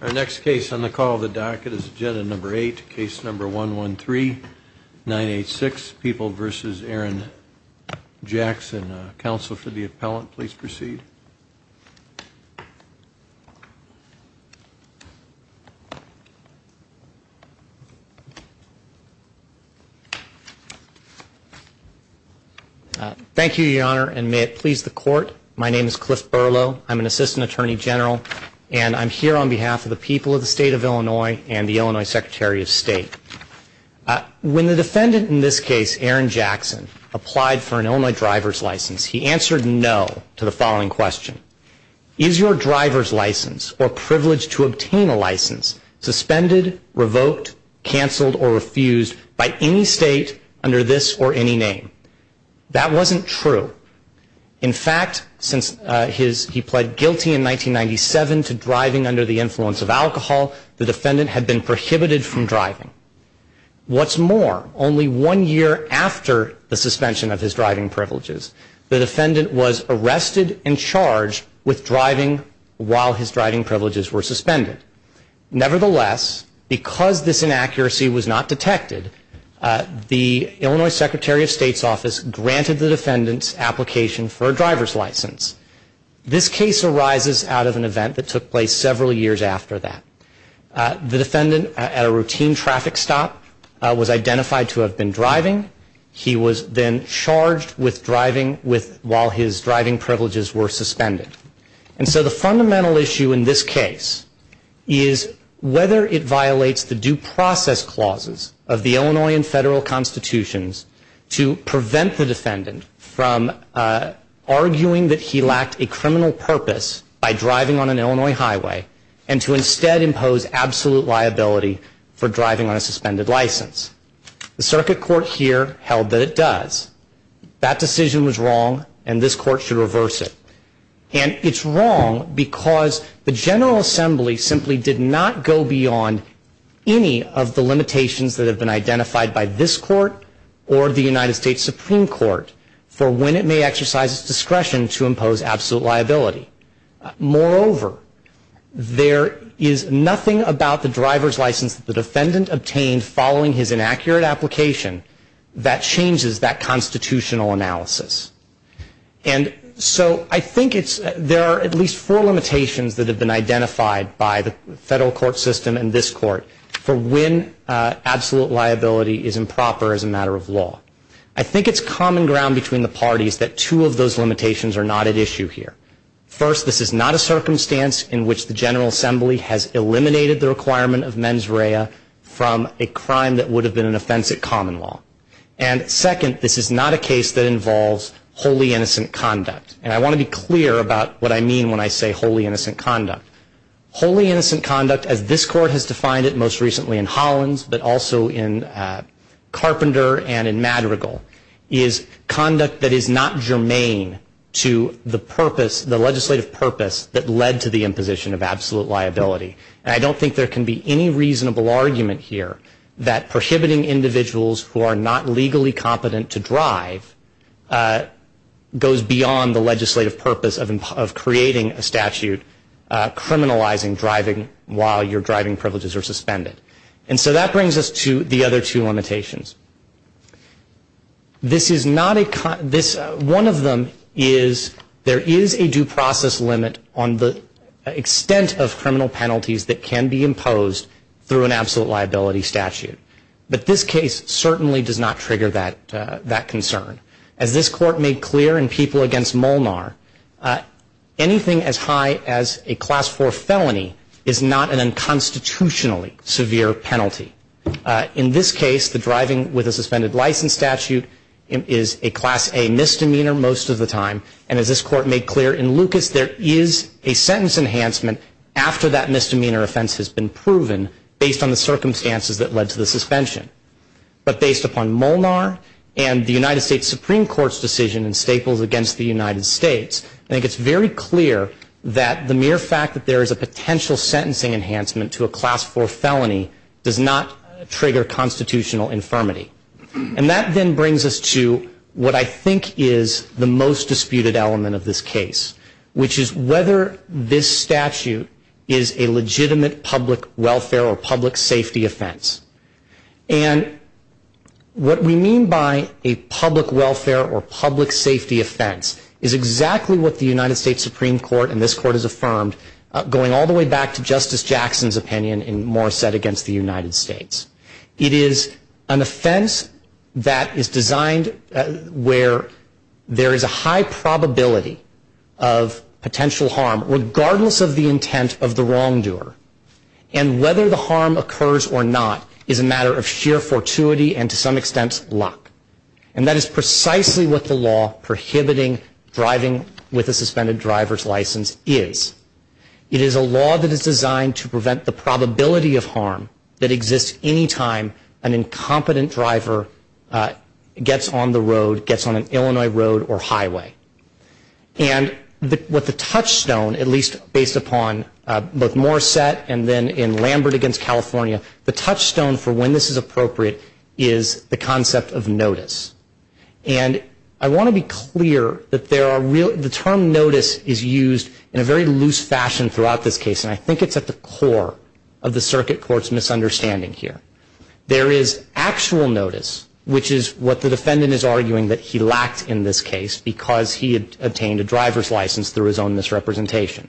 Our next case on the call of the docket is agenda number 8, case number 113986, People v. Aaron Jackson. Counsel for the appellant, please proceed. Thank you, Your Honor, and may it please the court, my name is Cliff Berlow. I'm an assistant attorney general, and I'm here on behalf of the people of the state of Illinois and the Illinois Secretary of State. When the defendant in this case, Aaron Jackson, applied for an Illinois driver's license, he answered no to the following question. Is your driver's license or privilege to obtain a license suspended, revoked, canceled, or refused by any state under this or any name? That wasn't true. In fact, since he pled guilty in 1997 to driving under the influence of alcohol, the defendant had been prohibited from driving. What's more, only one year after the suspension of his driving privileges, the defendant was arrested and charged with driving while his driving privileges were suspended. Nevertheless, because this inaccuracy was not detected, the Illinois Secretary of State's office granted the defendant's application for a driver's license. This case arises out of an event that took place several years after that. The defendant, at a routine traffic stop, was identified to have been driving. He was then charged with driving while his driving privileges were suspended. And so the fundamental issue in this case is whether it violates the due process clauses of the Illinois and federal constitutions to prevent the defendant from arguing that he lacked a criminal purpose by driving on an Illinois highway and to instead impose absolute liability for driving on a suspended license. The circuit court here held that it does. That decision was wrong and this court should reverse it. And it's wrong because the General Assembly simply did not go beyond any of the limitations that have been identified by this court or the United States Supreme Court for when it may exercise its discretion to impose absolute liability. Moreover, there is nothing about the driver's license the defendant obtained following his inaccurate application that changes that constitutional analysis. And so I think there are at least four limitations that have been identified by the federal court system and this court for when absolute liability is improper as a matter of law. I think it's common ground between the parties that two of those limitations are not at issue here. First, this is not a circumstance in which the General Assembly has eliminated the requirement of mens rea from a crime that would have been an offense at common law. And second, this is not a case that involves wholly innocent conduct. And I want to be clear about what I mean when I say wholly innocent conduct. Wholly innocent conduct as this court has defined it most recently in Hollins but also in Carpenter and in Madrigal is conduct that is not germane to the legislative purpose that led to the imposition of absolute liability. And I don't think there can be any reasonable argument here that prohibiting individuals who are not legally competent to drive goes beyond the legislative purpose of creating a statute criminalizing driving while your driving privileges are suspended. And so that brings us to the other two limitations. This is not a, this, one of them is there is a due process limit on the extent of criminal penalties that can be imposed through an absolute liability statute. But this case certainly does not trigger that concern. As this court made clear in People Against Molnar, anything as high as a class four felony is not an unconstitutionally severe penalty. In this case, the driving with a suspended license statute is a class A misdemeanor most of the time. And as this court made clear in Lucas, there is a sentence enhancement after that misdemeanor offense has been proven based on the circumstances that led to the suspension. But based upon Molnar and the United States Supreme Court's decision in Staples against the United States, I think it's very clear that the mere fact that there is a potential sentencing enhancement to a class four felony does not trigger constitutional infirmity. And that then brings us to what I think is the most disputed element of this case, which is whether this statute is a legitimate public welfare or public safety offense. And what we mean by a public welfare or public safety offense is exactly what the United States Supreme Court and this court has affirmed going all the way back to Justice Jackson's opinion in Morrissette against the United States. It is an offense that is designed where there is a high probability of potential harm, regardless of the intent of the wrongdoer. And whether the harm occurs or not is a matter of sheer fortuity and, to some extent, luck. And that is precisely what the law prohibiting driving with a suspended driver's license is. It is a law that is designed to prevent the probability of harm that exists any time an incompetent driver gets on the road, gets on an Illinois road or highway. And what the touchstone, at least based upon both Morrissette and then in Lambert against California, the touchstone for when this is appropriate is the concept of notice. And I want to be clear that the term notice is used in a very loose fashion throughout this case, and I think it's at the core of the circuit court's misunderstanding here. There is actual notice, which is what the defendant is arguing that he lacked in this case because he had obtained a driver's license through his own misrepresentation.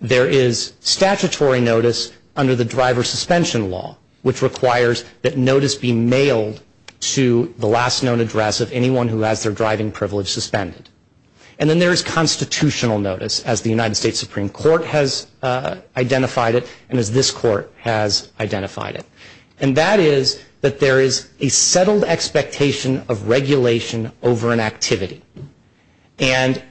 There is statutory notice under the driver suspension law, which requires that notice be mailed to the last known address of anyone who has their driving privilege suspended. And then there is constitutional notice, as the United States Supreme Court has identified it and as this Court has identified it. And that is that there is a settled expectation of regulation over an activity, and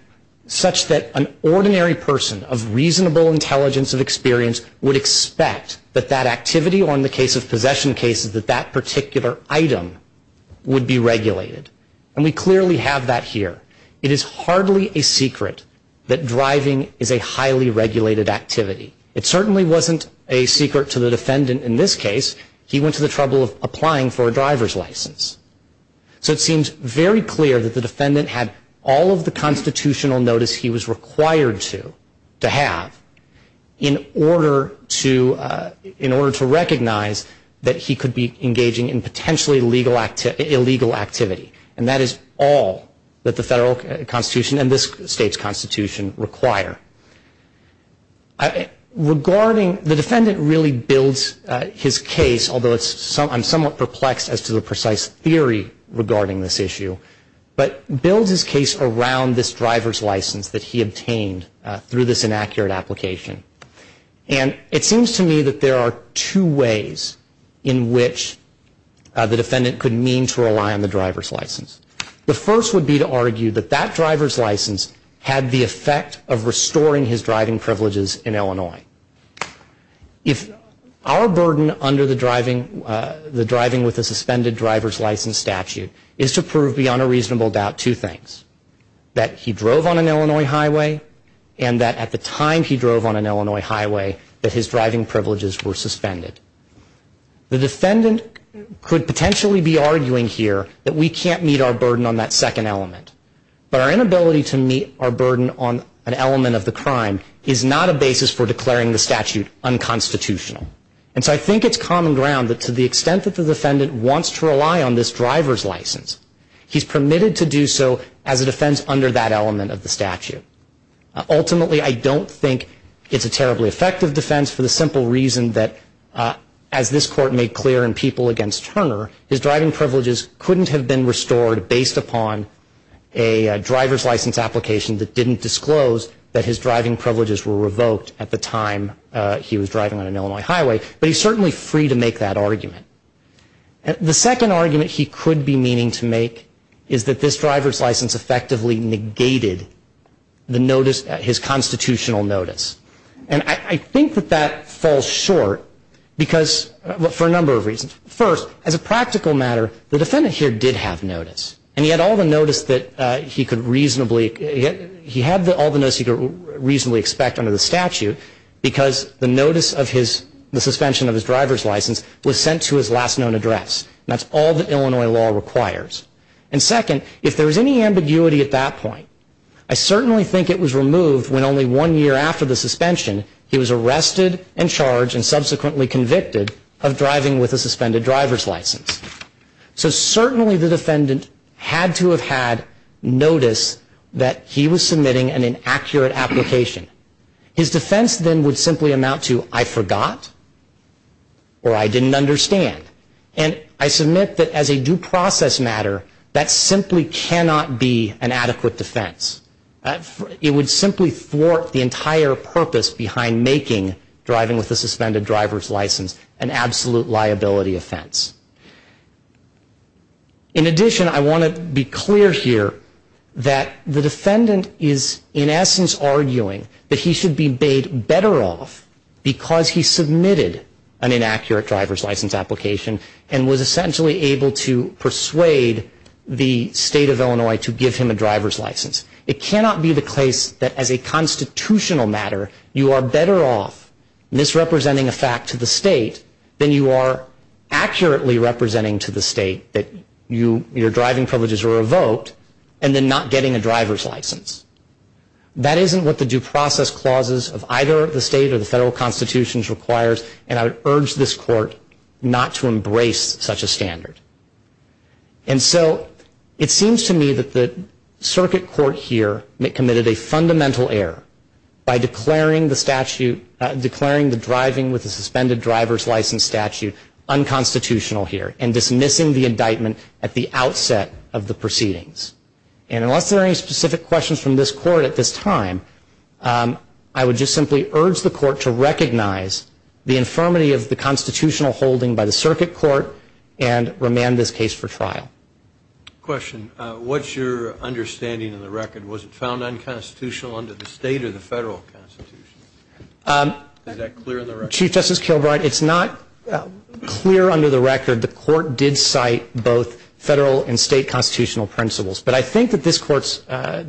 such that an ordinary person of reasonable intelligence and experience would expect that that activity or in the case of possession cases that that particular item would be regulated. And we clearly have that here. It is hardly a secret that driving is a highly regulated activity. It certainly wasn't a secret to the defendant in this case. He went to the trouble of applying for a driver's license. So it seems very clear that the defendant had all of the constitutional notice he was required to have in order to recognize that he could be engaging in potentially illegal activity. And that is all that the federal constitution and this state's constitution require. Regarding the defendant really builds his case, although I'm somewhat perplexed as to the precise theory regarding this issue, but builds his case around this driver's license that he obtained through this inaccurate application. And it seems to me that there are two ways in which the defendant could mean to rely on the driver's license. The first would be to argue that that driver's license had the effect of restoring his driving privileges in Illinois. If our burden under the driving with a suspended driver's license statute is to prove beyond a reasonable doubt two things, that he drove on an Illinois highway and that at the time he drove on an Illinois highway that his driving privileges were suspended. The defendant could potentially be arguing here that we can't meet our burden on that second element. But our inability to meet our burden on an element of the crime is not a basis for declaring the statute unconstitutional. And so I think it's common ground that to the extent that the defendant wants to rely on this driver's license, he's permitted to do so as a defense under that element of the statute. Ultimately, I don't think it's a terribly effective defense for the simple reason that, as this Court made clear in People Against Turner, his driving privileges couldn't have been restored based upon a driver's license application that didn't disclose that his driving privileges were revoked at the time he was driving on an Illinois highway. The second argument he could be meaning to make is that this driver's license effectively negated his constitutional notice. And I think that that falls short for a number of reasons. First, as a practical matter, the defendant here did have notice. And he had all the notice he could reasonably expect under the statute because the suspension of his driver's license was sent to his last known address. That's all that Illinois law requires. And second, if there was any ambiguity at that point, I certainly think it was removed when only one year after the suspension, he was arrested and charged and subsequently convicted of driving with a suspended driver's license. So certainly the defendant had to have had notice that he was submitting an inaccurate application. His defense then would simply amount to, I forgot or I didn't understand. And I submit that as a due process matter, that simply cannot be an adequate defense. It would simply thwart the entire purpose behind making driving with a suspended driver's license an absolute liability offense. In addition, I want to be clear here that the defendant is in essence arguing that he should be bade better off because he submitted an inaccurate driver's license application and was essentially able to persuade the state of Illinois to give him a driver's license. It cannot be the case that as a constitutional matter, you are better off misrepresenting a fact to the state than you are accurately representing to the state that your driving privileges were revoked and then not getting a driver's license. That isn't what the due process clauses of either the state or the federal constitutions requires, and I would urge this court not to embrace such a standard. And so it seems to me that the circuit court here committed a fundamental error by declaring the driving with a suspended driver's license statute unconstitutional here and dismissing the indictment at the outset of the proceedings. And unless there are any specific questions from this court at this time, I would just simply urge the court to recognize the infirmity of the constitutional holding by the circuit court and remand this case for trial. Question. What's your understanding of the record? Was it found unconstitutional under the state or the federal constitution? Is that clear in the record? Chief Justice Kilbride, it's not clear under the record. The court did cite both federal and state constitutional principles. But I think that this court's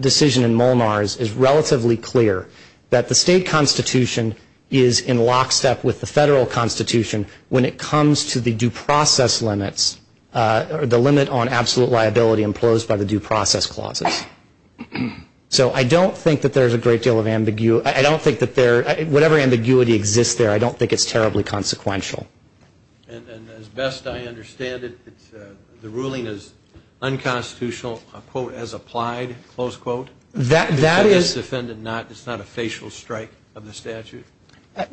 decision in Molnar's is relatively clear, that the state constitution is in lockstep with the federal constitution when it comes to the due process limits or the limit on absolute liability imposed by the due process clauses. So I don't think that there's a great deal of ambiguity. I don't think that whatever ambiguity exists there, I don't think it's terribly consequential. And as best I understand it, the ruling is unconstitutional, a quote, as applied, close quote. That is. It's not a facial strike of the statute.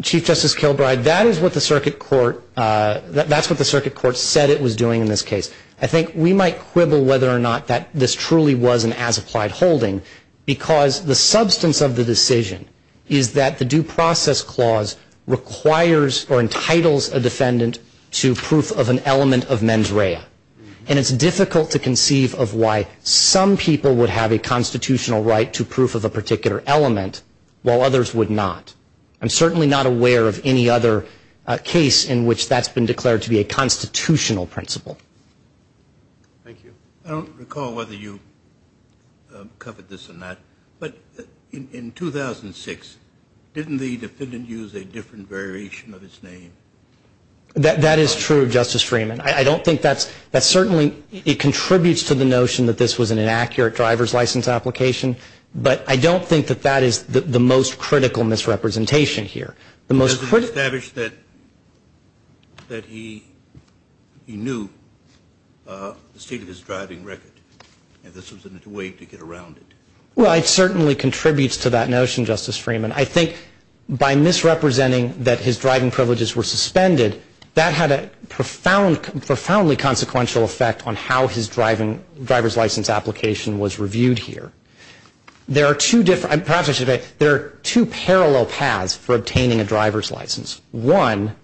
Chief Justice Kilbride, that is what the circuit court, that's what the circuit court said it was doing in this case. I think we might quibble whether or not this truly was an as-applied holding because the substance of the decision is that the due process clause requires or entitles a defendant to proof of an element of mens rea. And it's difficult to conceive of why some people would have a constitutional right to proof of a particular element while others would not. I'm certainly not aware of any other case in which that's been declared to be a constitutional principle. Thank you. I don't recall whether you covered this or not, but in 2006, didn't the defendant use a different variation of his name? That is true, Justice Freeman. I don't think that's certainly, it contributes to the notion that this was an inaccurate driver's license application, but I don't think that that is the most critical misrepresentation here. The most critical... The defendant established that he knew the state of his driving record and this was a way to get around it. Well, it certainly contributes to that notion, Justice Freeman. I think by misrepresenting that his driving privileges were suspended, that had a profoundly consequential effect on how his driver's license application was reviewed here. There are two parallel paths for obtaining a driver's license. One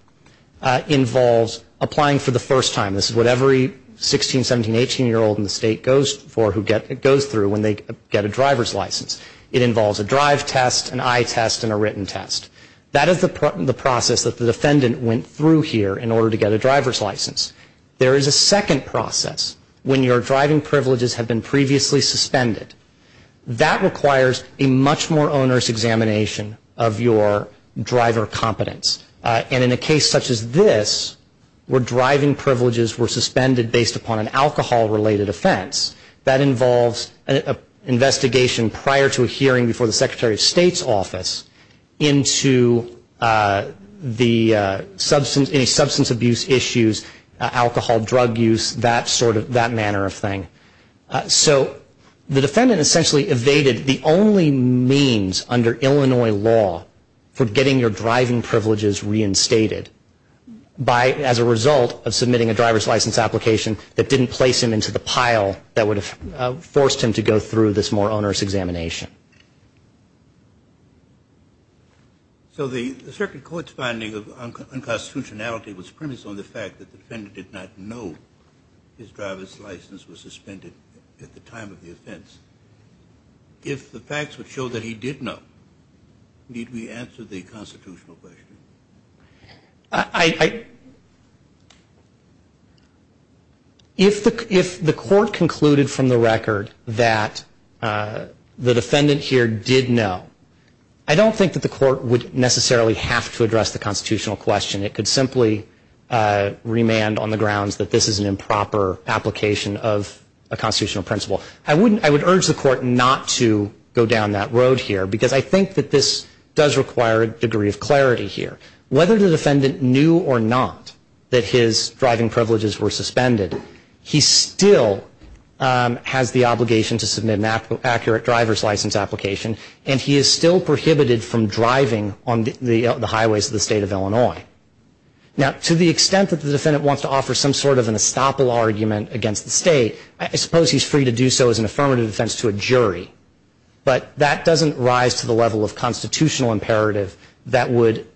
involves applying for the first time. This is what every 16-, 17-, 18-year-old in the state goes through when they get a driver's license. It involves a drive test, an eye test, and a written test. That is the process that the defendant went through here in order to get a driver's license. There is a second process when your driving privileges have been previously suspended. That requires a much more onerous examination of your driver competence. And in a case such as this, where driving privileges were suspended based upon an alcohol-related offense, that involves an investigation prior to a hearing before the Secretary of State's office into any substance abuse issues, alcohol, drug use, that sort of manner of thing. So the defendant essentially evaded the only means under Illinois law for getting your driving privileges reinstated as a result of submitting a driver's license application that didn't place him into the pile that would have forced him to go through this more onerous examination. So the Circuit Court's finding of unconstitutionality was premised on the fact that the defendant did not know his driver's license was suspended at the time of the offense. If the facts would show that he did know, need we answer the constitutional question? If the court concluded from the record that the defendant here did know, I don't think that the court would necessarily have to address the constitutional question. It could simply remand on the grounds that this is an improper application of a constitutional principle. I would urge the court not to go down that road here, because I think that this does require a degree of clarity here. Whether the defendant knew or not that his driving privileges were suspended, he still has the obligation to submit an accurate driver's license application, and he is still prohibited from driving on the highways of the state of Illinois. Now, to the extent that the defendant wants to offer some sort of an estoppel argument against the state, I suppose he's free to do so as an affirmative defense to a jury, but that doesn't rise to the level of constitutional imperative that would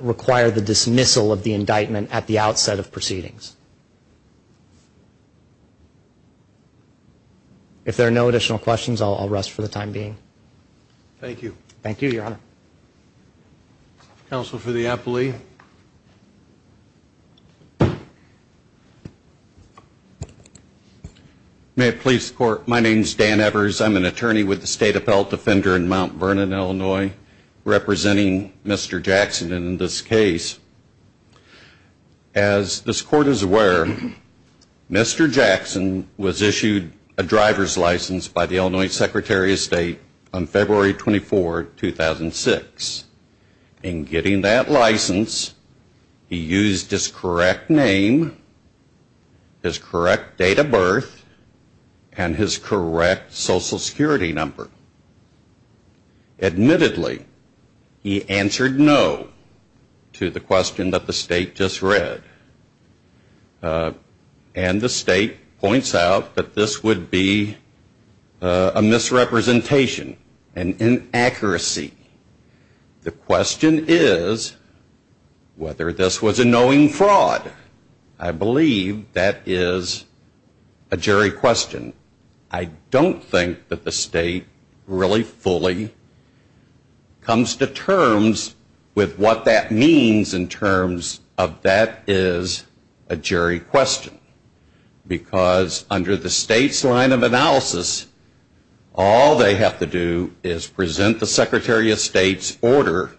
require the dismissal of the indictment at the outset of proceedings. If there are no additional questions, I'll rest for the time being. Thank you. Thank you, Your Honor. Counsel for the appellee. May it please the Court, my name is Dan Evers. I'm an attorney with the State Appellate Defender in Mount Vernon, Illinois, representing Mr. Jackson in this case. As this Court is aware, Mr. Jackson was issued a driver's license by the Illinois Secretary of State on February 24, 2006. In getting that license, he used his correct name, his correct date of birth, and his correct Social Security number. Admittedly, he answered no to the question that the State just read, and the State points out that this would be a misrepresentation, an inaccuracy. The question is whether this was a knowing fraud. I believe that is a jury question. I don't think that the State really fully comes to terms with what that means in terms of that is a jury question. Because under the State's line of analysis, all they have to do is present the Secretary of State's order,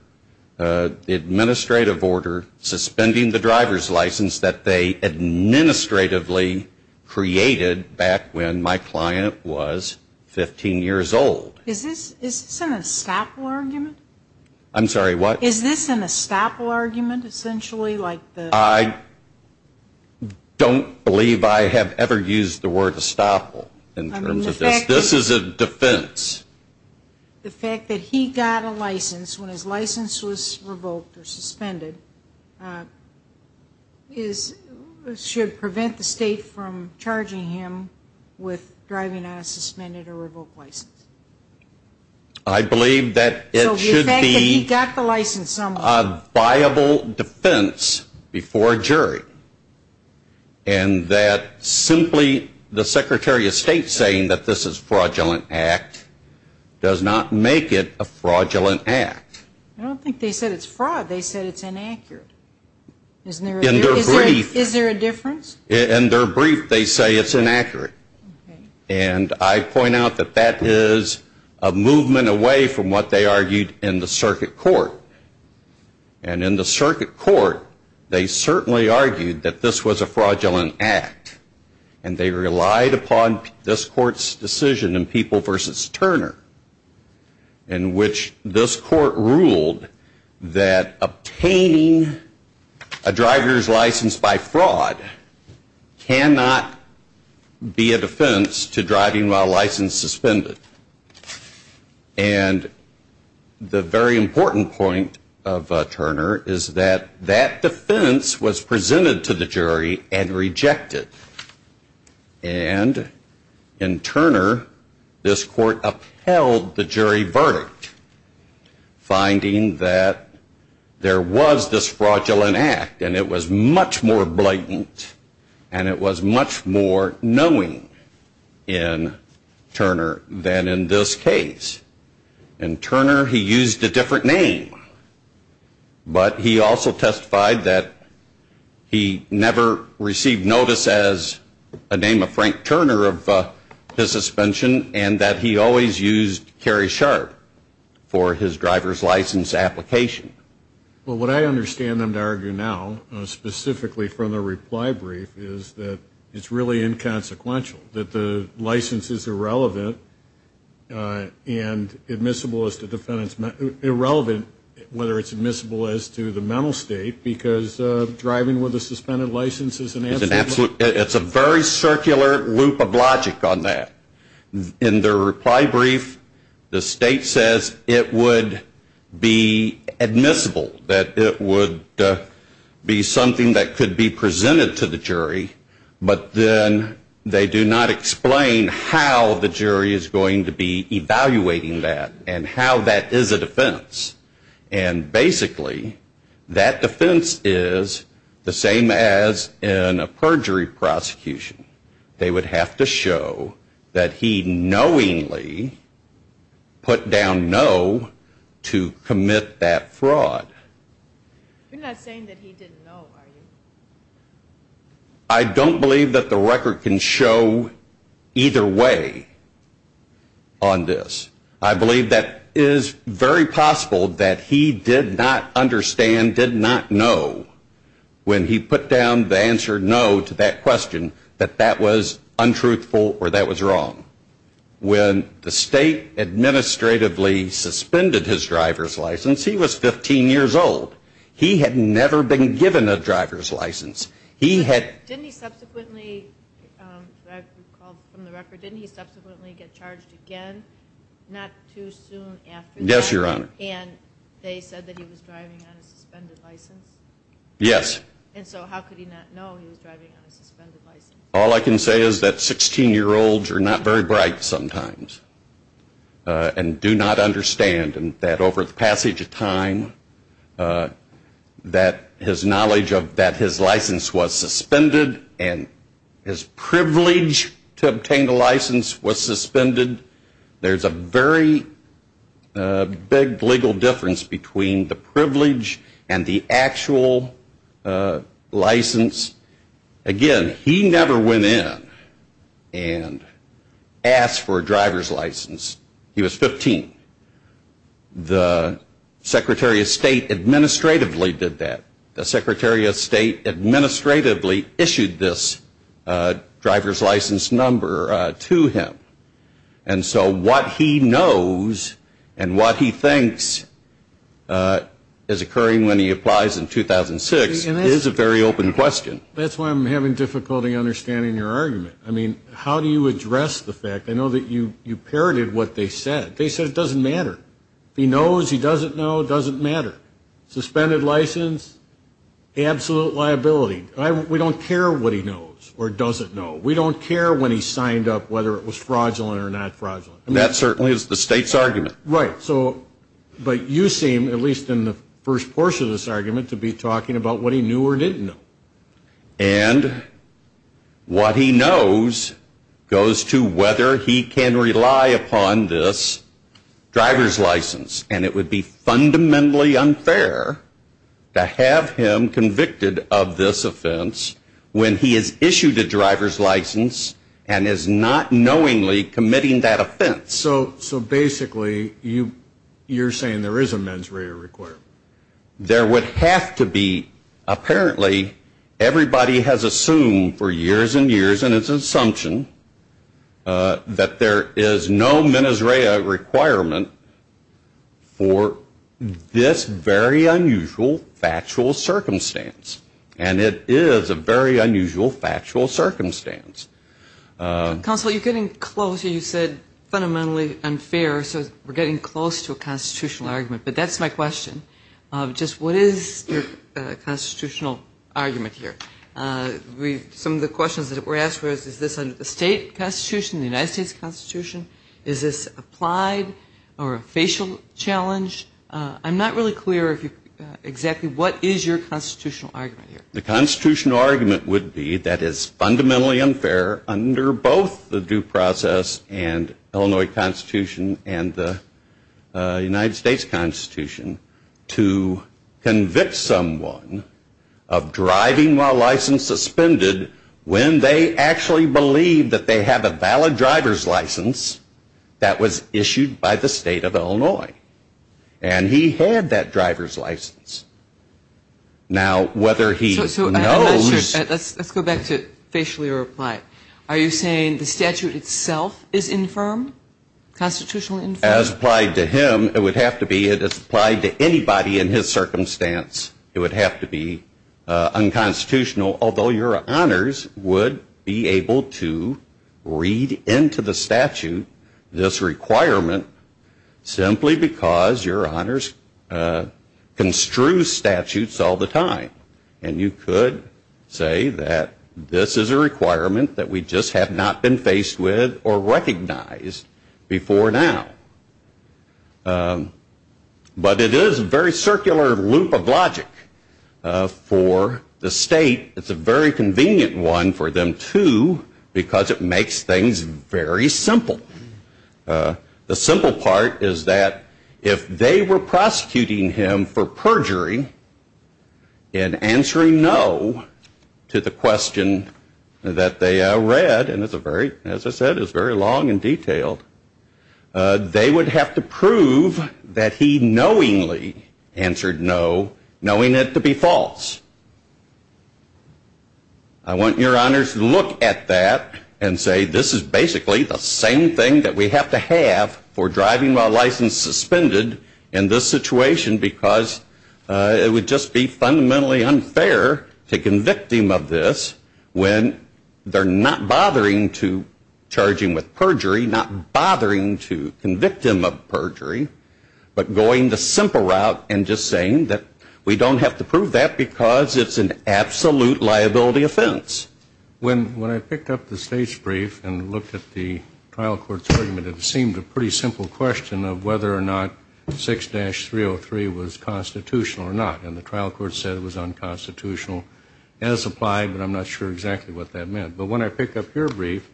the administrative order, suspending the driver's license that they administratively created back when my client was 15 years old. Is this an estoppel argument? I'm sorry, what? Is this an estoppel argument, essentially? I don't believe I have ever used the word estoppel in terms of this. This is a defense. The fact that he got a license when his license was revoked or suspended should prevent the State from charging him with driving on a suspended or revoked license. I believe that it should be a viable defense before a jury. And that simply the Secretary of State saying that this is a fraudulent act does not make it a fraudulent act. I don't think they said it's fraud. They said it's inaccurate. Is there a difference? In their brief, they say it's inaccurate. And I point out that that is a movement away from what they argued in the circuit court. And in the circuit court, they certainly argued that this was a fraudulent act. And they relied upon this court's decision in People v. Turner in which this court ruled that obtaining a driver's license by fraud cannot be a defense to driving while license suspended. And the very important point of Turner is that that defense was presented to the jury and rejected. And in Turner, this court upheld the jury verdict finding that there was this fraudulent act and it was much more blatant and it was much more knowing in Turner than in this case. In Turner, he used a different name. But he also testified that he never received notice as a name of Frank Turner of his suspension and that he always used Carrie Sharp for his driver's license application. Well, what I understand them to argue now, specifically from the reply brief, is that it's really inconsequential. That the license is irrelevant and admissible as the defendant's, irrelevant whether it's admissible as to the mental state because driving with a suspended license is an absolute. It's an absolute, it's a very circular loop of logic on that. In the reply brief, the state says it would be admissible, that it would be something that could be presented to the jury. But then they do not explain how the jury is going to be evaluating that and how that is a defense. And basically, that defense is the same as in a perjury prosecution. They would have to show that he knowingly put down no to commit that fraud. You're not saying that he didn't know, are you? I don't believe that the record can show either way on this. I believe that it is very possible that he did not understand, did not know, when he put down the answer no to that question, that that was untruthful or that was wrong. When the state administratively suspended his driver's license, he was 15 years old. He had never been given a driver's license. Didn't he subsequently, I recall from the record, didn't he subsequently get charged again not too soon after that? Yes, Your Honor. And they said that he was driving on a suspended license? Yes. And so how could he not know he was driving on a suspended license? All I can say is that 16-year-olds are not very bright sometimes and do not understand that over the passage of time, that his knowledge of that his license was suspended and his privilege to obtain the license was suspended. There's a very big legal difference between the privilege and the actual license. Again, he never went in and asked for a driver's license. He was 15. The Secretary of State administratively did that. The Secretary of State administratively issued this driver's license number to him. And so what he knows and what he thinks is occurring when he applies in 2006 is a very open question. That's why I'm having difficulty understanding your argument. I mean, how do you address the fact? I know that you parroted what they said. They said it doesn't matter. If he knows, he doesn't know, it doesn't matter. Suspended license, absolute liability. We don't care what he knows or doesn't know. We don't care when he signed up whether it was fraudulent or not fraudulent. That certainly is the State's argument. Right. But you seem, at least in the first portion of this argument, to be talking about what he knew or didn't know. And what he knows goes to whether he can rely upon this driver's license. And it would be fundamentally unfair to have him convicted of this offense when he has issued a driver's license and is not knowingly committing that offense. So basically, you're saying there is a mens rea required. There would have to be, apparently, everybody has assumed for years and years, and it's an assumption, that there is no mens rea requirement for this very unusual factual circumstance. And it is a very unusual factual circumstance. Counsel, you're getting close. You said fundamentally unfair, so we're getting close to a constitutional argument. But that's my question. Just what is the constitutional argument here? Some of the questions that were asked was, is this under the State Constitution, the United States Constitution? Is this applied or a facial challenge? I'm not really clear exactly what is your constitutional argument here. The constitutional argument would be that it's fundamentally unfair under both the due process and Illinois Constitution and the United States Constitution to convict someone of driving while license suspended when they actually believe that they have a valid driver's license that was issued by the State of Illinois. And he had that driver's license. Now, whether he knows. Let's go back to facially reply. Are you saying the statute itself is infirm, constitutionally infirm? As applied to him, it would have to be as applied to anybody in his circumstance. It would have to be unconstitutional, although your honors would be able to read into the statute this requirement simply because your honors construe statutes all the time. And you could say that this is a requirement that we just have not been faced with or recognized before now. But it is a very circular loop of logic for the state. It's a very convenient one for them, too, because it makes things very simple. The simple part is that if they were prosecuting him for perjury and answering no to the question that they read, and it's a very, as I said, it's very long and detailed, they would have to prove that he knowingly answered no, knowing it to be false. I want your honors to look at that and say this is basically the same thing that we have to have for driving while licensed suspended in this situation because it would just be fundamentally unfair to convict him of this when they're not bothering to charge him with perjury, not bothering to convict him of perjury, but going the simple route and just saying that we don't have to prove that because it's an absolute liability offense. When I picked up the state's brief and looked at the trial court's argument, it seemed a pretty simple question of whether or not 6-303 was constitutional or not. And the trial court said it was unconstitutional as applied, but I'm not sure exactly what that meant. But when I pick up your brief,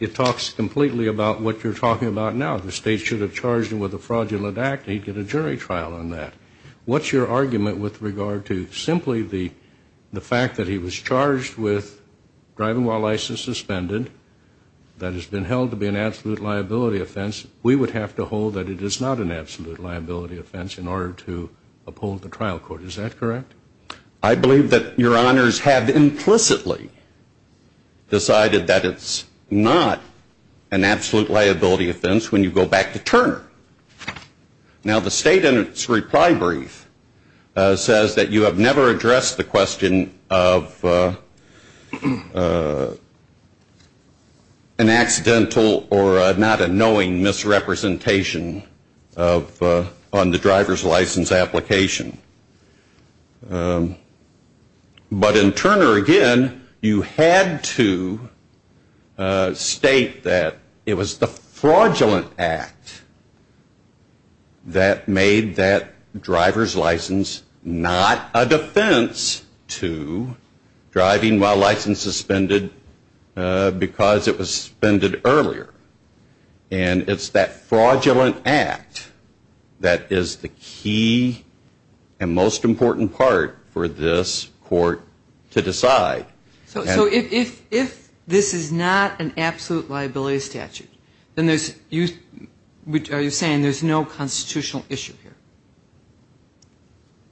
it talks completely about what you're talking about now. The state should have charged him with a fraudulent act and he'd get a jury trial on that. What's your argument with regard to simply the fact that he was charged with driving while licensed suspended that has been held to be an absolute liability offense? We would have to hold that it is not an absolute liability offense in order to uphold the trial court. Is that correct? I believe that your honors have implicitly decided that it's not an absolute liability offense when you go back to Turner. Now the state in its reply brief says that you have never addressed the question of an accidental or not a knowing misrepresentation on the driver's license application. But in Turner, again, you had to state that it was the fraudulent act that made that driver's license not a defense to driving while licensed suspended because it was suspended earlier. And it's that fraudulent act that is the key and most important part for this court to decide. So if this is not an absolute liability statute, then are you saying there's no constitutional issue here?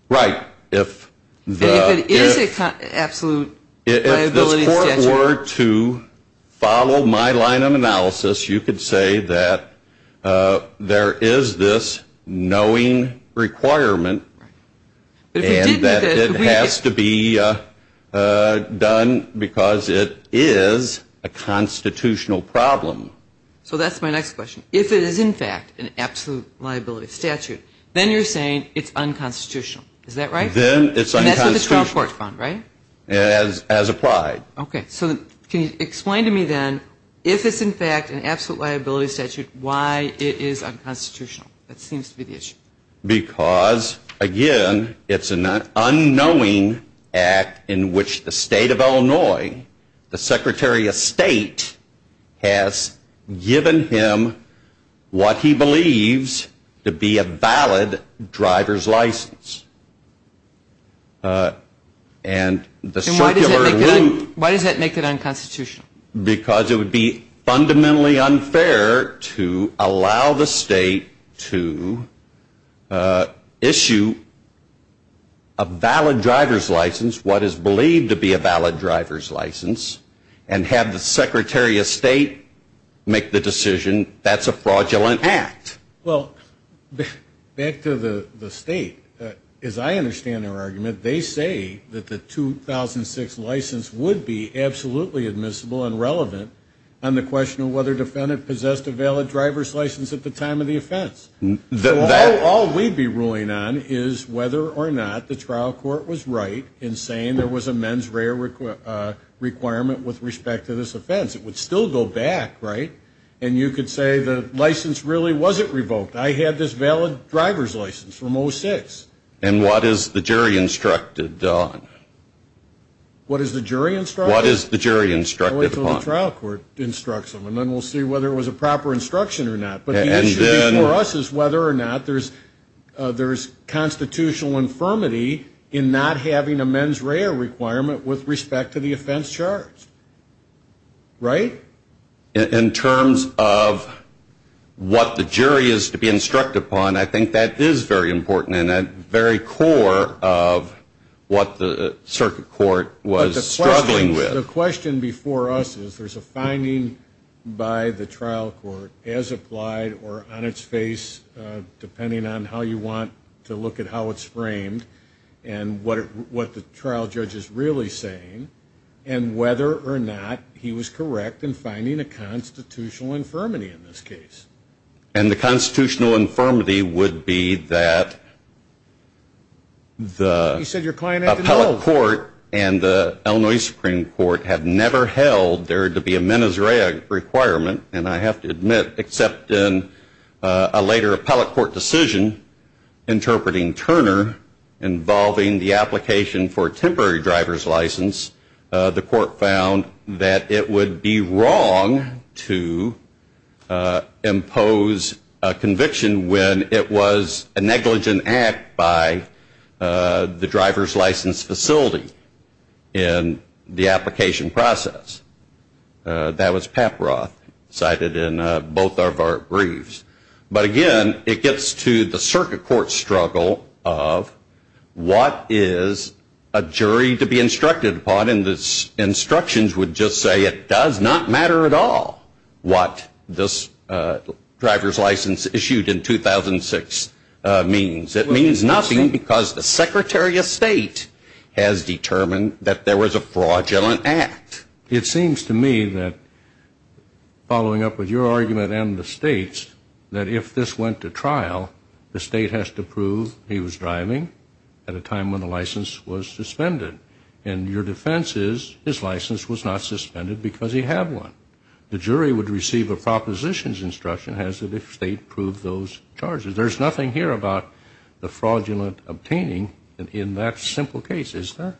Right. If it is an absolute liability statute. If this court were to follow my line of analysis, you could say that there is this knowing requirement and that it has to be done because it is a constitutional problem. So that's my next question. If it is, in fact, an absolute liability statute, then you're saying it's unconstitutional. Is that right? Then it's unconstitutional. And that's what the trial court found, right? As applied. Okay. So can you explain to me then if it's, in fact, an absolute liability statute, why it is unconstitutional? That seems to be the issue. Because, again, it's an unknowing act in which the state of Illinois, the Secretary of State, has given him what he believes to be a valid driver's license. And the circular rule. Why does that make it unconstitutional? Because it would be fundamentally unfair to allow the state to issue a valid driver's license, what is believed to be a valid driver's license, and have the Secretary of State make the decision that's a fraudulent act. Well, back to the state. As I understand their argument, they say that the 2006 license would be absolutely admissible and relevant on the question of whether a defendant possessed a valid driver's license at the time of the offense. So all we'd be ruling on is whether or not the trial court was right in saying there was a mens rea requirement with respect to this offense. It would still go back, right? And you could say the license really wasn't revoked. I had this valid driver's license from 06. And what is the jury instructed on? What is the jury instructed? What is the jury instructed upon? I'll wait until the trial court instructs them, and then we'll see whether it was a proper instruction or not. But the issue before us is whether or not there's constitutional infirmity in not having a mens rea requirement with respect to the offense charged. Right? In terms of what the jury is to be instructed upon, I think that is very important and at the very core of what the circuit court was struggling with. The question before us is there's a finding by the trial court as applied or on its face, depending on how you want to look at how it's framed and what the trial judge is really saying, and whether or not he was correct in finding a constitutional infirmity in this case. And the constitutional infirmity would be that the appellate court and the Illinois Supreme Court had never held there to be a mens rea requirement, and I have to admit, except in a later appellate court decision interpreting Turner involving the application for temporary driver's license, the court found that it would be wrong to impose a conviction when it was a negligent act by the driver's license facility in the application process. That was Paproth cited in both of our briefs. But again, it gets to the circuit court struggle of what is a jury to be instructed upon, and the instructions would just say it does not matter at all what this driver's license issued in 2006 means. It means nothing because the Secretary of State has determined that there was a fraudulent act. It seems to me that, following up with your argument and the State's, that if this went to trial, the State has to prove he was driving at a time when the license was suspended. And your defense is his license was not suspended because he had one. The jury would receive a propositions instruction as to if the State proved those charges. There's nothing here about the fraudulent obtaining in that simple case, is there?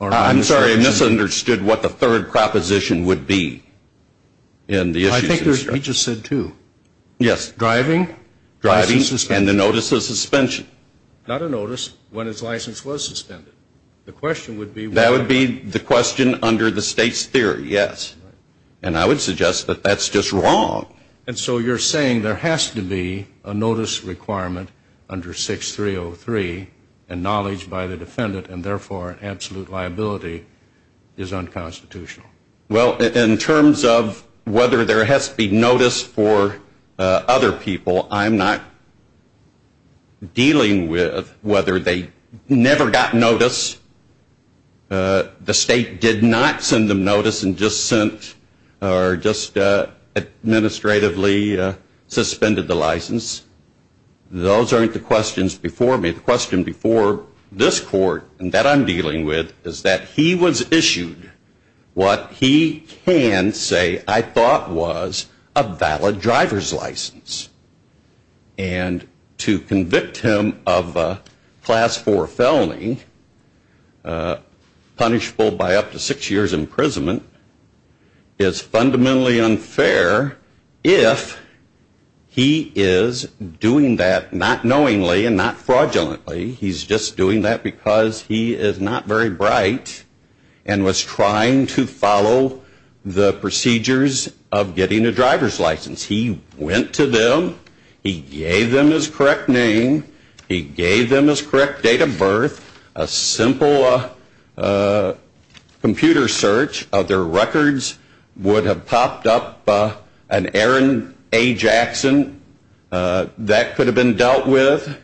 I'm sorry, I misunderstood what the third proposition would be in the issue. I think he just said two. Yes. Driving. Driving and the notice of suspension. Not a notice when his license was suspended. The question would be. That would be the question under the State's theory, yes. And I would suggest that that's just wrong. And so you're saying there has to be a notice requirement under 6303 and knowledge by the defendant and therefore absolute liability is unconstitutional. Well, in terms of whether there has to be notice for other people, I'm not dealing with whether they never got notice. The State did not send them notice and just administratively suspended the license. Those aren't the questions before me. The question before this court that I'm dealing with is that he was issued what he can say I thought was a valid driver's license. And to convict him of a class four felony, punishable by up to six years imprisonment, is fundamentally unfair if he is doing that not knowingly and not fraudulently. He's just doing that because he is not very bright and was trying to follow the procedures of getting a driver's license. He went to them. He gave them his correct name. He gave them his correct date of birth. A simple computer search of their records would have popped up an Aaron A. Jackson. That could have been dealt with.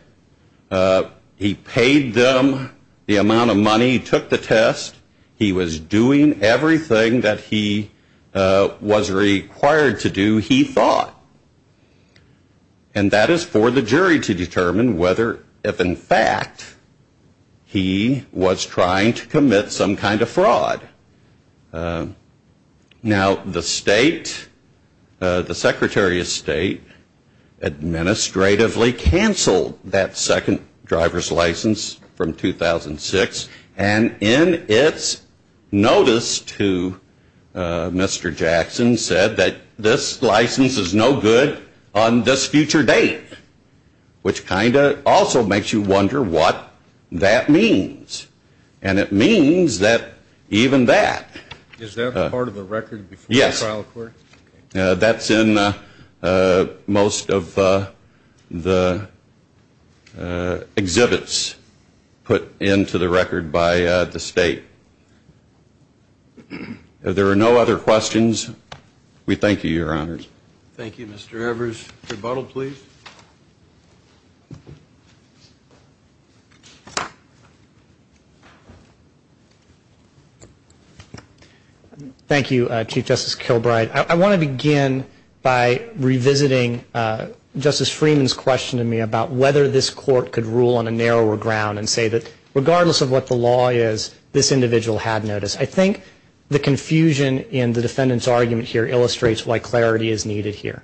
He paid them the amount of money. He took the test. He was doing everything that he was required to do. He thought. And that is for the jury to determine whether if in fact he was trying to commit some kind of fraud. Now the State, the Secretary of State, administratively canceled that second driver's license from 2006. And in its notice to Mr. Jackson said that this license is no good on this future date. Which kind of also makes you wonder what that means. And it means that even that. Is that part of the record? Yes. That's in most of the exhibits put into the record by the State. If there are no other questions, we thank you, Your Honors. Thank you, Mr. Evers. Rebuttal, please. Thank you, Chief Justice Kilbride. I want to begin by revisiting Justice Freeman's question to me about whether this court could rule on a narrower ground and say that regardless of what the law is, this individual had notice. I think the confusion in the defendant's argument here illustrates why clarity is needed here.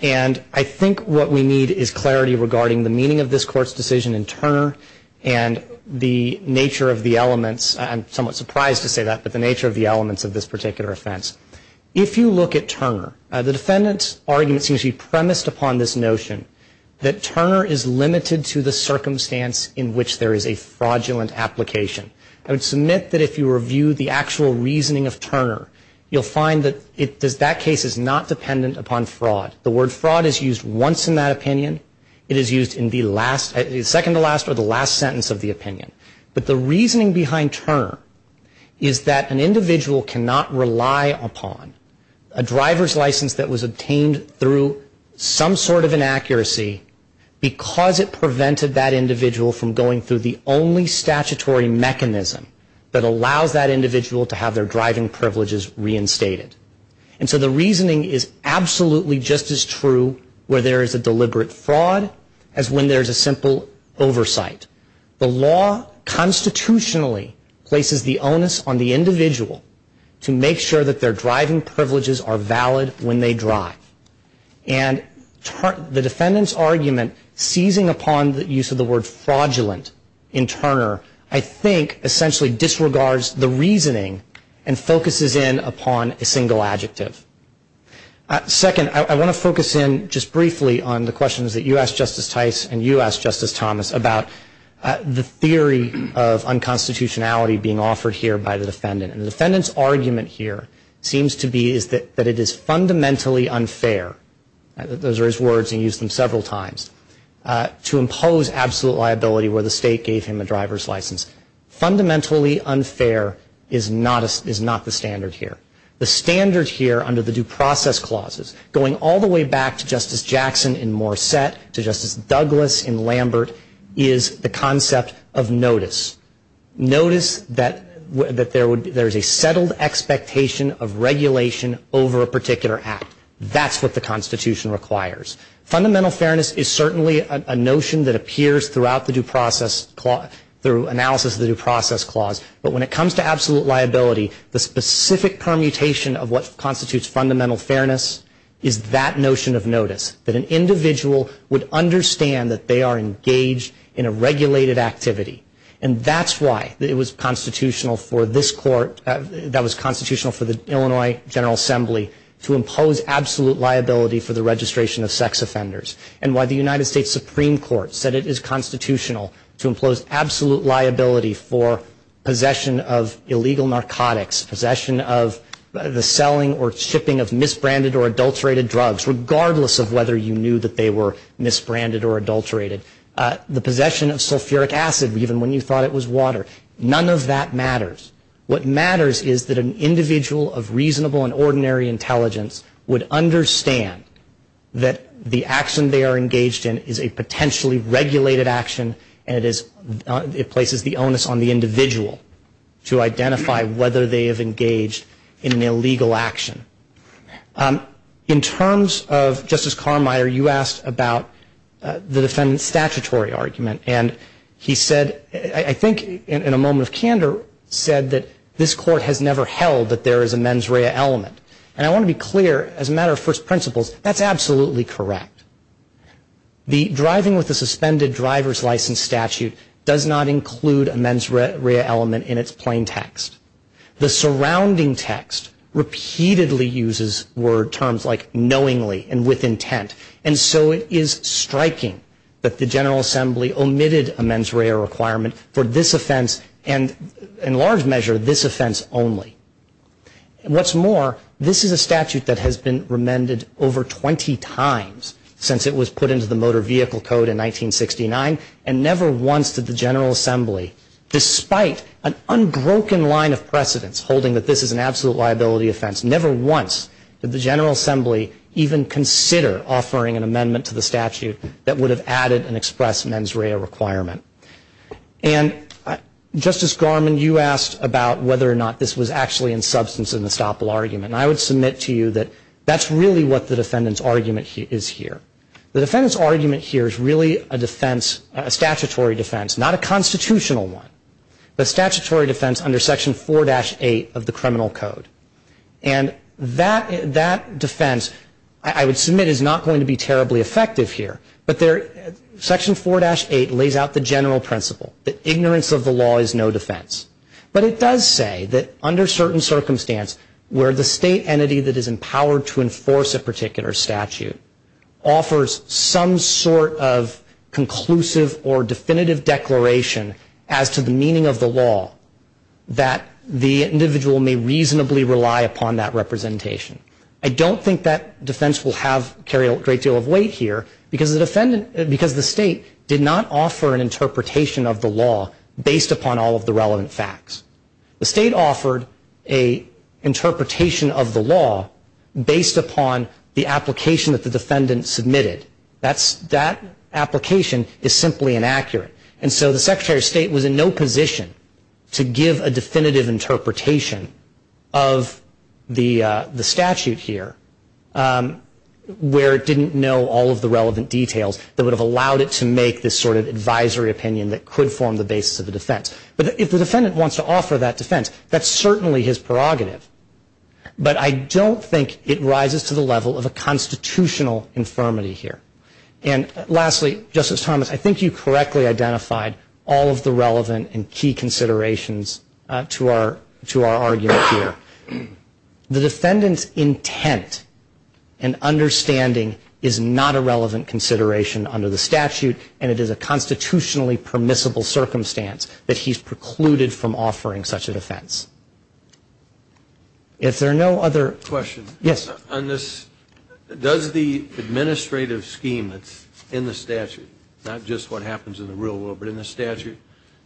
And I think what we need is clarity regarding the meaning of this court's decision in Turner and the nature of the elements, I'm somewhat surprised to say that, but the nature of the elements of this particular offense. If you look at Turner, the defendant's argument seems to be premised upon this notion that Turner is limited to the circumstance in which there is a fraudulent application. I would submit that if you review the actual reasoning of Turner, you'll find that that case is not dependent upon fraud. The word fraud is used once in that opinion. It is used in the second to last or the last sentence of the opinion. But the reasoning behind Turner is that an individual cannot rely upon a driver's license that was obtained through some sort of inaccuracy because it prevented that individual from going through the only statutory mechanism that allows that individual to have their driving privileges reinstated. And so the reasoning is absolutely just as true where there is a deliberate fraud as when there is a simple oversight. The law constitutionally places the onus on the individual to make sure that their driving privileges are valid when they drive. And the defendant's argument seizing upon the use of the word fraudulent in Turner, I think essentially disregards the reasoning and focuses in upon a single adjective. Second, I want to focus in just briefly on the questions that you asked, Justice Tice, and you asked, Justice Thomas, about the theory of unconstitutionality being offered here by the defendant. And the defendant's argument here seems to be that it is fundamentally unfair, those are his words and he used them several times, to impose absolute liability where the state gave him a driver's license. Fundamentally unfair is not the standard here. The standard here under the due process clauses, going all the way back to Justice Jackson in Morset, to Justice Douglas in Lambert, is the concept of notice. Notice that there is a settled expectation of regulation over a particular act. That's what the Constitution requires. Fundamental fairness is certainly a notion that appears throughout the analysis of the due process clause, but when it comes to absolute liability, the specific permutation of what constitutes fundamental fairness is that notion of notice, that an individual would understand that they are engaged in a regulated activity. And that's why it was constitutional for this court, that was constitutional for the Illinois General Assembly, to impose absolute liability for the registration of sex offenders. And why the United States Supreme Court said it is constitutional to impose absolute liability for possession of illegal narcotics, possession of the selling or shipping of misbranded or adulterated drugs, regardless of whether you knew that they were misbranded or adulterated. The possession of sulfuric acid, even when you thought it was water. None of that matters. What matters is that an individual of reasonable and ordinary intelligence would understand that the action they are engaged in is a potentially regulated action, and it places the onus on the individual to identify whether they have engaged in an illegal action. In terms of Justice Carmier, you asked about the defendant's statutory argument. And he said, I think in a moment of candor, said that this court has never held that there is a mens rea element. And I want to be clear, as a matter of first principles, that's absolutely correct. The driving with a suspended driver's license statute does not include a mens rea element in its plain text. The surrounding text repeatedly uses word terms like knowingly and with intent. And so it is striking that the General Assembly omitted a mens rea requirement for this offense, and in large measure, this offense only. What's more, this is a statute that has been remended over 20 times since it was put into the Motor Vehicle Code in 1969, and never once did the General Assembly, despite an unbroken line of precedence holding that this is an absolute liability offense, never once did the General Assembly even consider offering an amendment to the statute that would have added an express mens rea requirement. And Justice Garmon, you asked about whether or not this was actually in substance in the Staple argument. And I would submit to you that that's really what the defendant's argument is here. The defendant's argument here is really a defense, a statutory defense, not a constitutional one, but a statutory defense under Section 4-8 of the Criminal Code. And that defense, I would submit, is not going to be terribly effective here, but Section 4-8 lays out the general principle that ignorance of the law is no defense. But it does say that under certain circumstance where the state entity that is empowered to enforce a particular statute offers some sort of conclusive or definitive declaration as to the meaning of the law, that the individual may reasonably rely upon that representation. I don't think that defense will carry a great deal of weight here, because the state did not offer an interpretation of the law based upon all of the relevant facts. The state offered an interpretation of the law based upon the application that the defendant submitted. That application is simply inaccurate. And so the Secretary of State was in no position to give a definitive interpretation of the statute here, where it didn't know all of the relevant details that would have allowed it to make this sort of advisory opinion that could form the basis of the defense. But if the defendant wants to offer that defense, that's certainly his prerogative. But I don't think it rises to the level of a constitutional infirmity here. And lastly, Justice Thomas, I think you correctly identified all of the relevant and key considerations to our argument here. The defendant's intent and understanding is not a relevant consideration under the statute, and it is a constitutionally permissible circumstance that he's precluded from offering such a defense. If there are no other questions. Yes. On this, does the administrative scheme that's in the statute, not just what happens in the real world, but in the statute,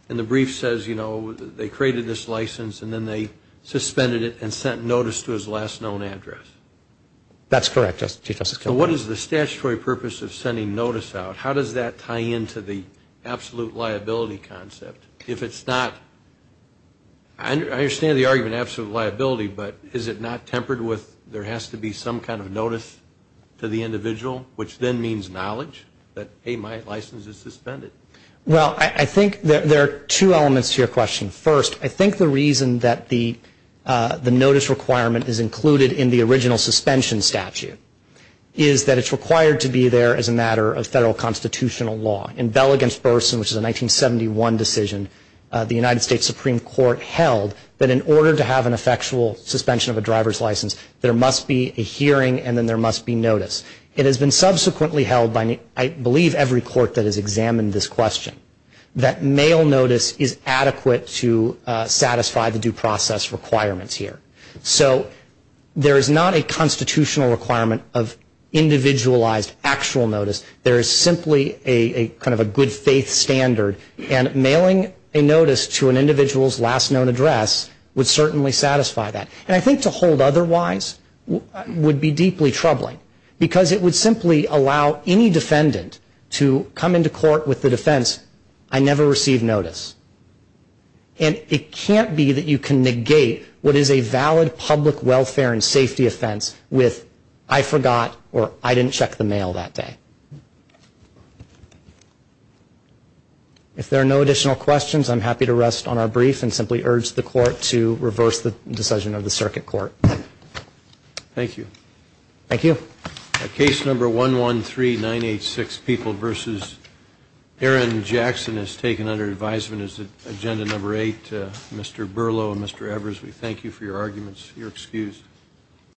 in the brief says, you know, they created this license, and then they suspended it and sent notice to his last known address. That's correct, Chief Justice Kilgore. So what is the statutory purpose of sending notice out? How does that tie into the absolute liability concept? If it's not, I understand the argument of absolute liability, but is it not tempered with there has to be some kind of notice to the individual, which then means knowledge that, hey, my license is suspended? Well, I think there are two elements to your question. First, I think the reason that the notice requirement is included in the original suspension statute is that it's required to be there as a matter of federal constitutional law. In Bell v. Burson, which is a 1971 decision, the United States Supreme Court held that in order to have an effectual suspension of a driver's license, there must be a hearing and then there must be notice. It has been subsequently held by, I believe, every court that has examined this question, that mail notice is adequate to satisfy the due process requirements here. So there is not a constitutional requirement of individualized actual notice. There is simply a kind of a good faith standard, and mailing a notice to an individual's last known address would certainly satisfy that. And I think to hold otherwise would be deeply troubling, because it would simply allow any defendant to come into court with the defense, I never received notice. And it can't be that you can negate what is a valid public welfare and safety offense with, I forgot or I didn't check the mail that day. If there are no additional questions, I'm happy to rest on our brief and simply urge the court to reverse the decision of the circuit court. Thank you. Thank you. Case number 113986, People v. Aaron Jackson, is taken under advisement as agenda number eight. Mr. Berlow and Mr. Evers, we thank you for your arguments. You're excused.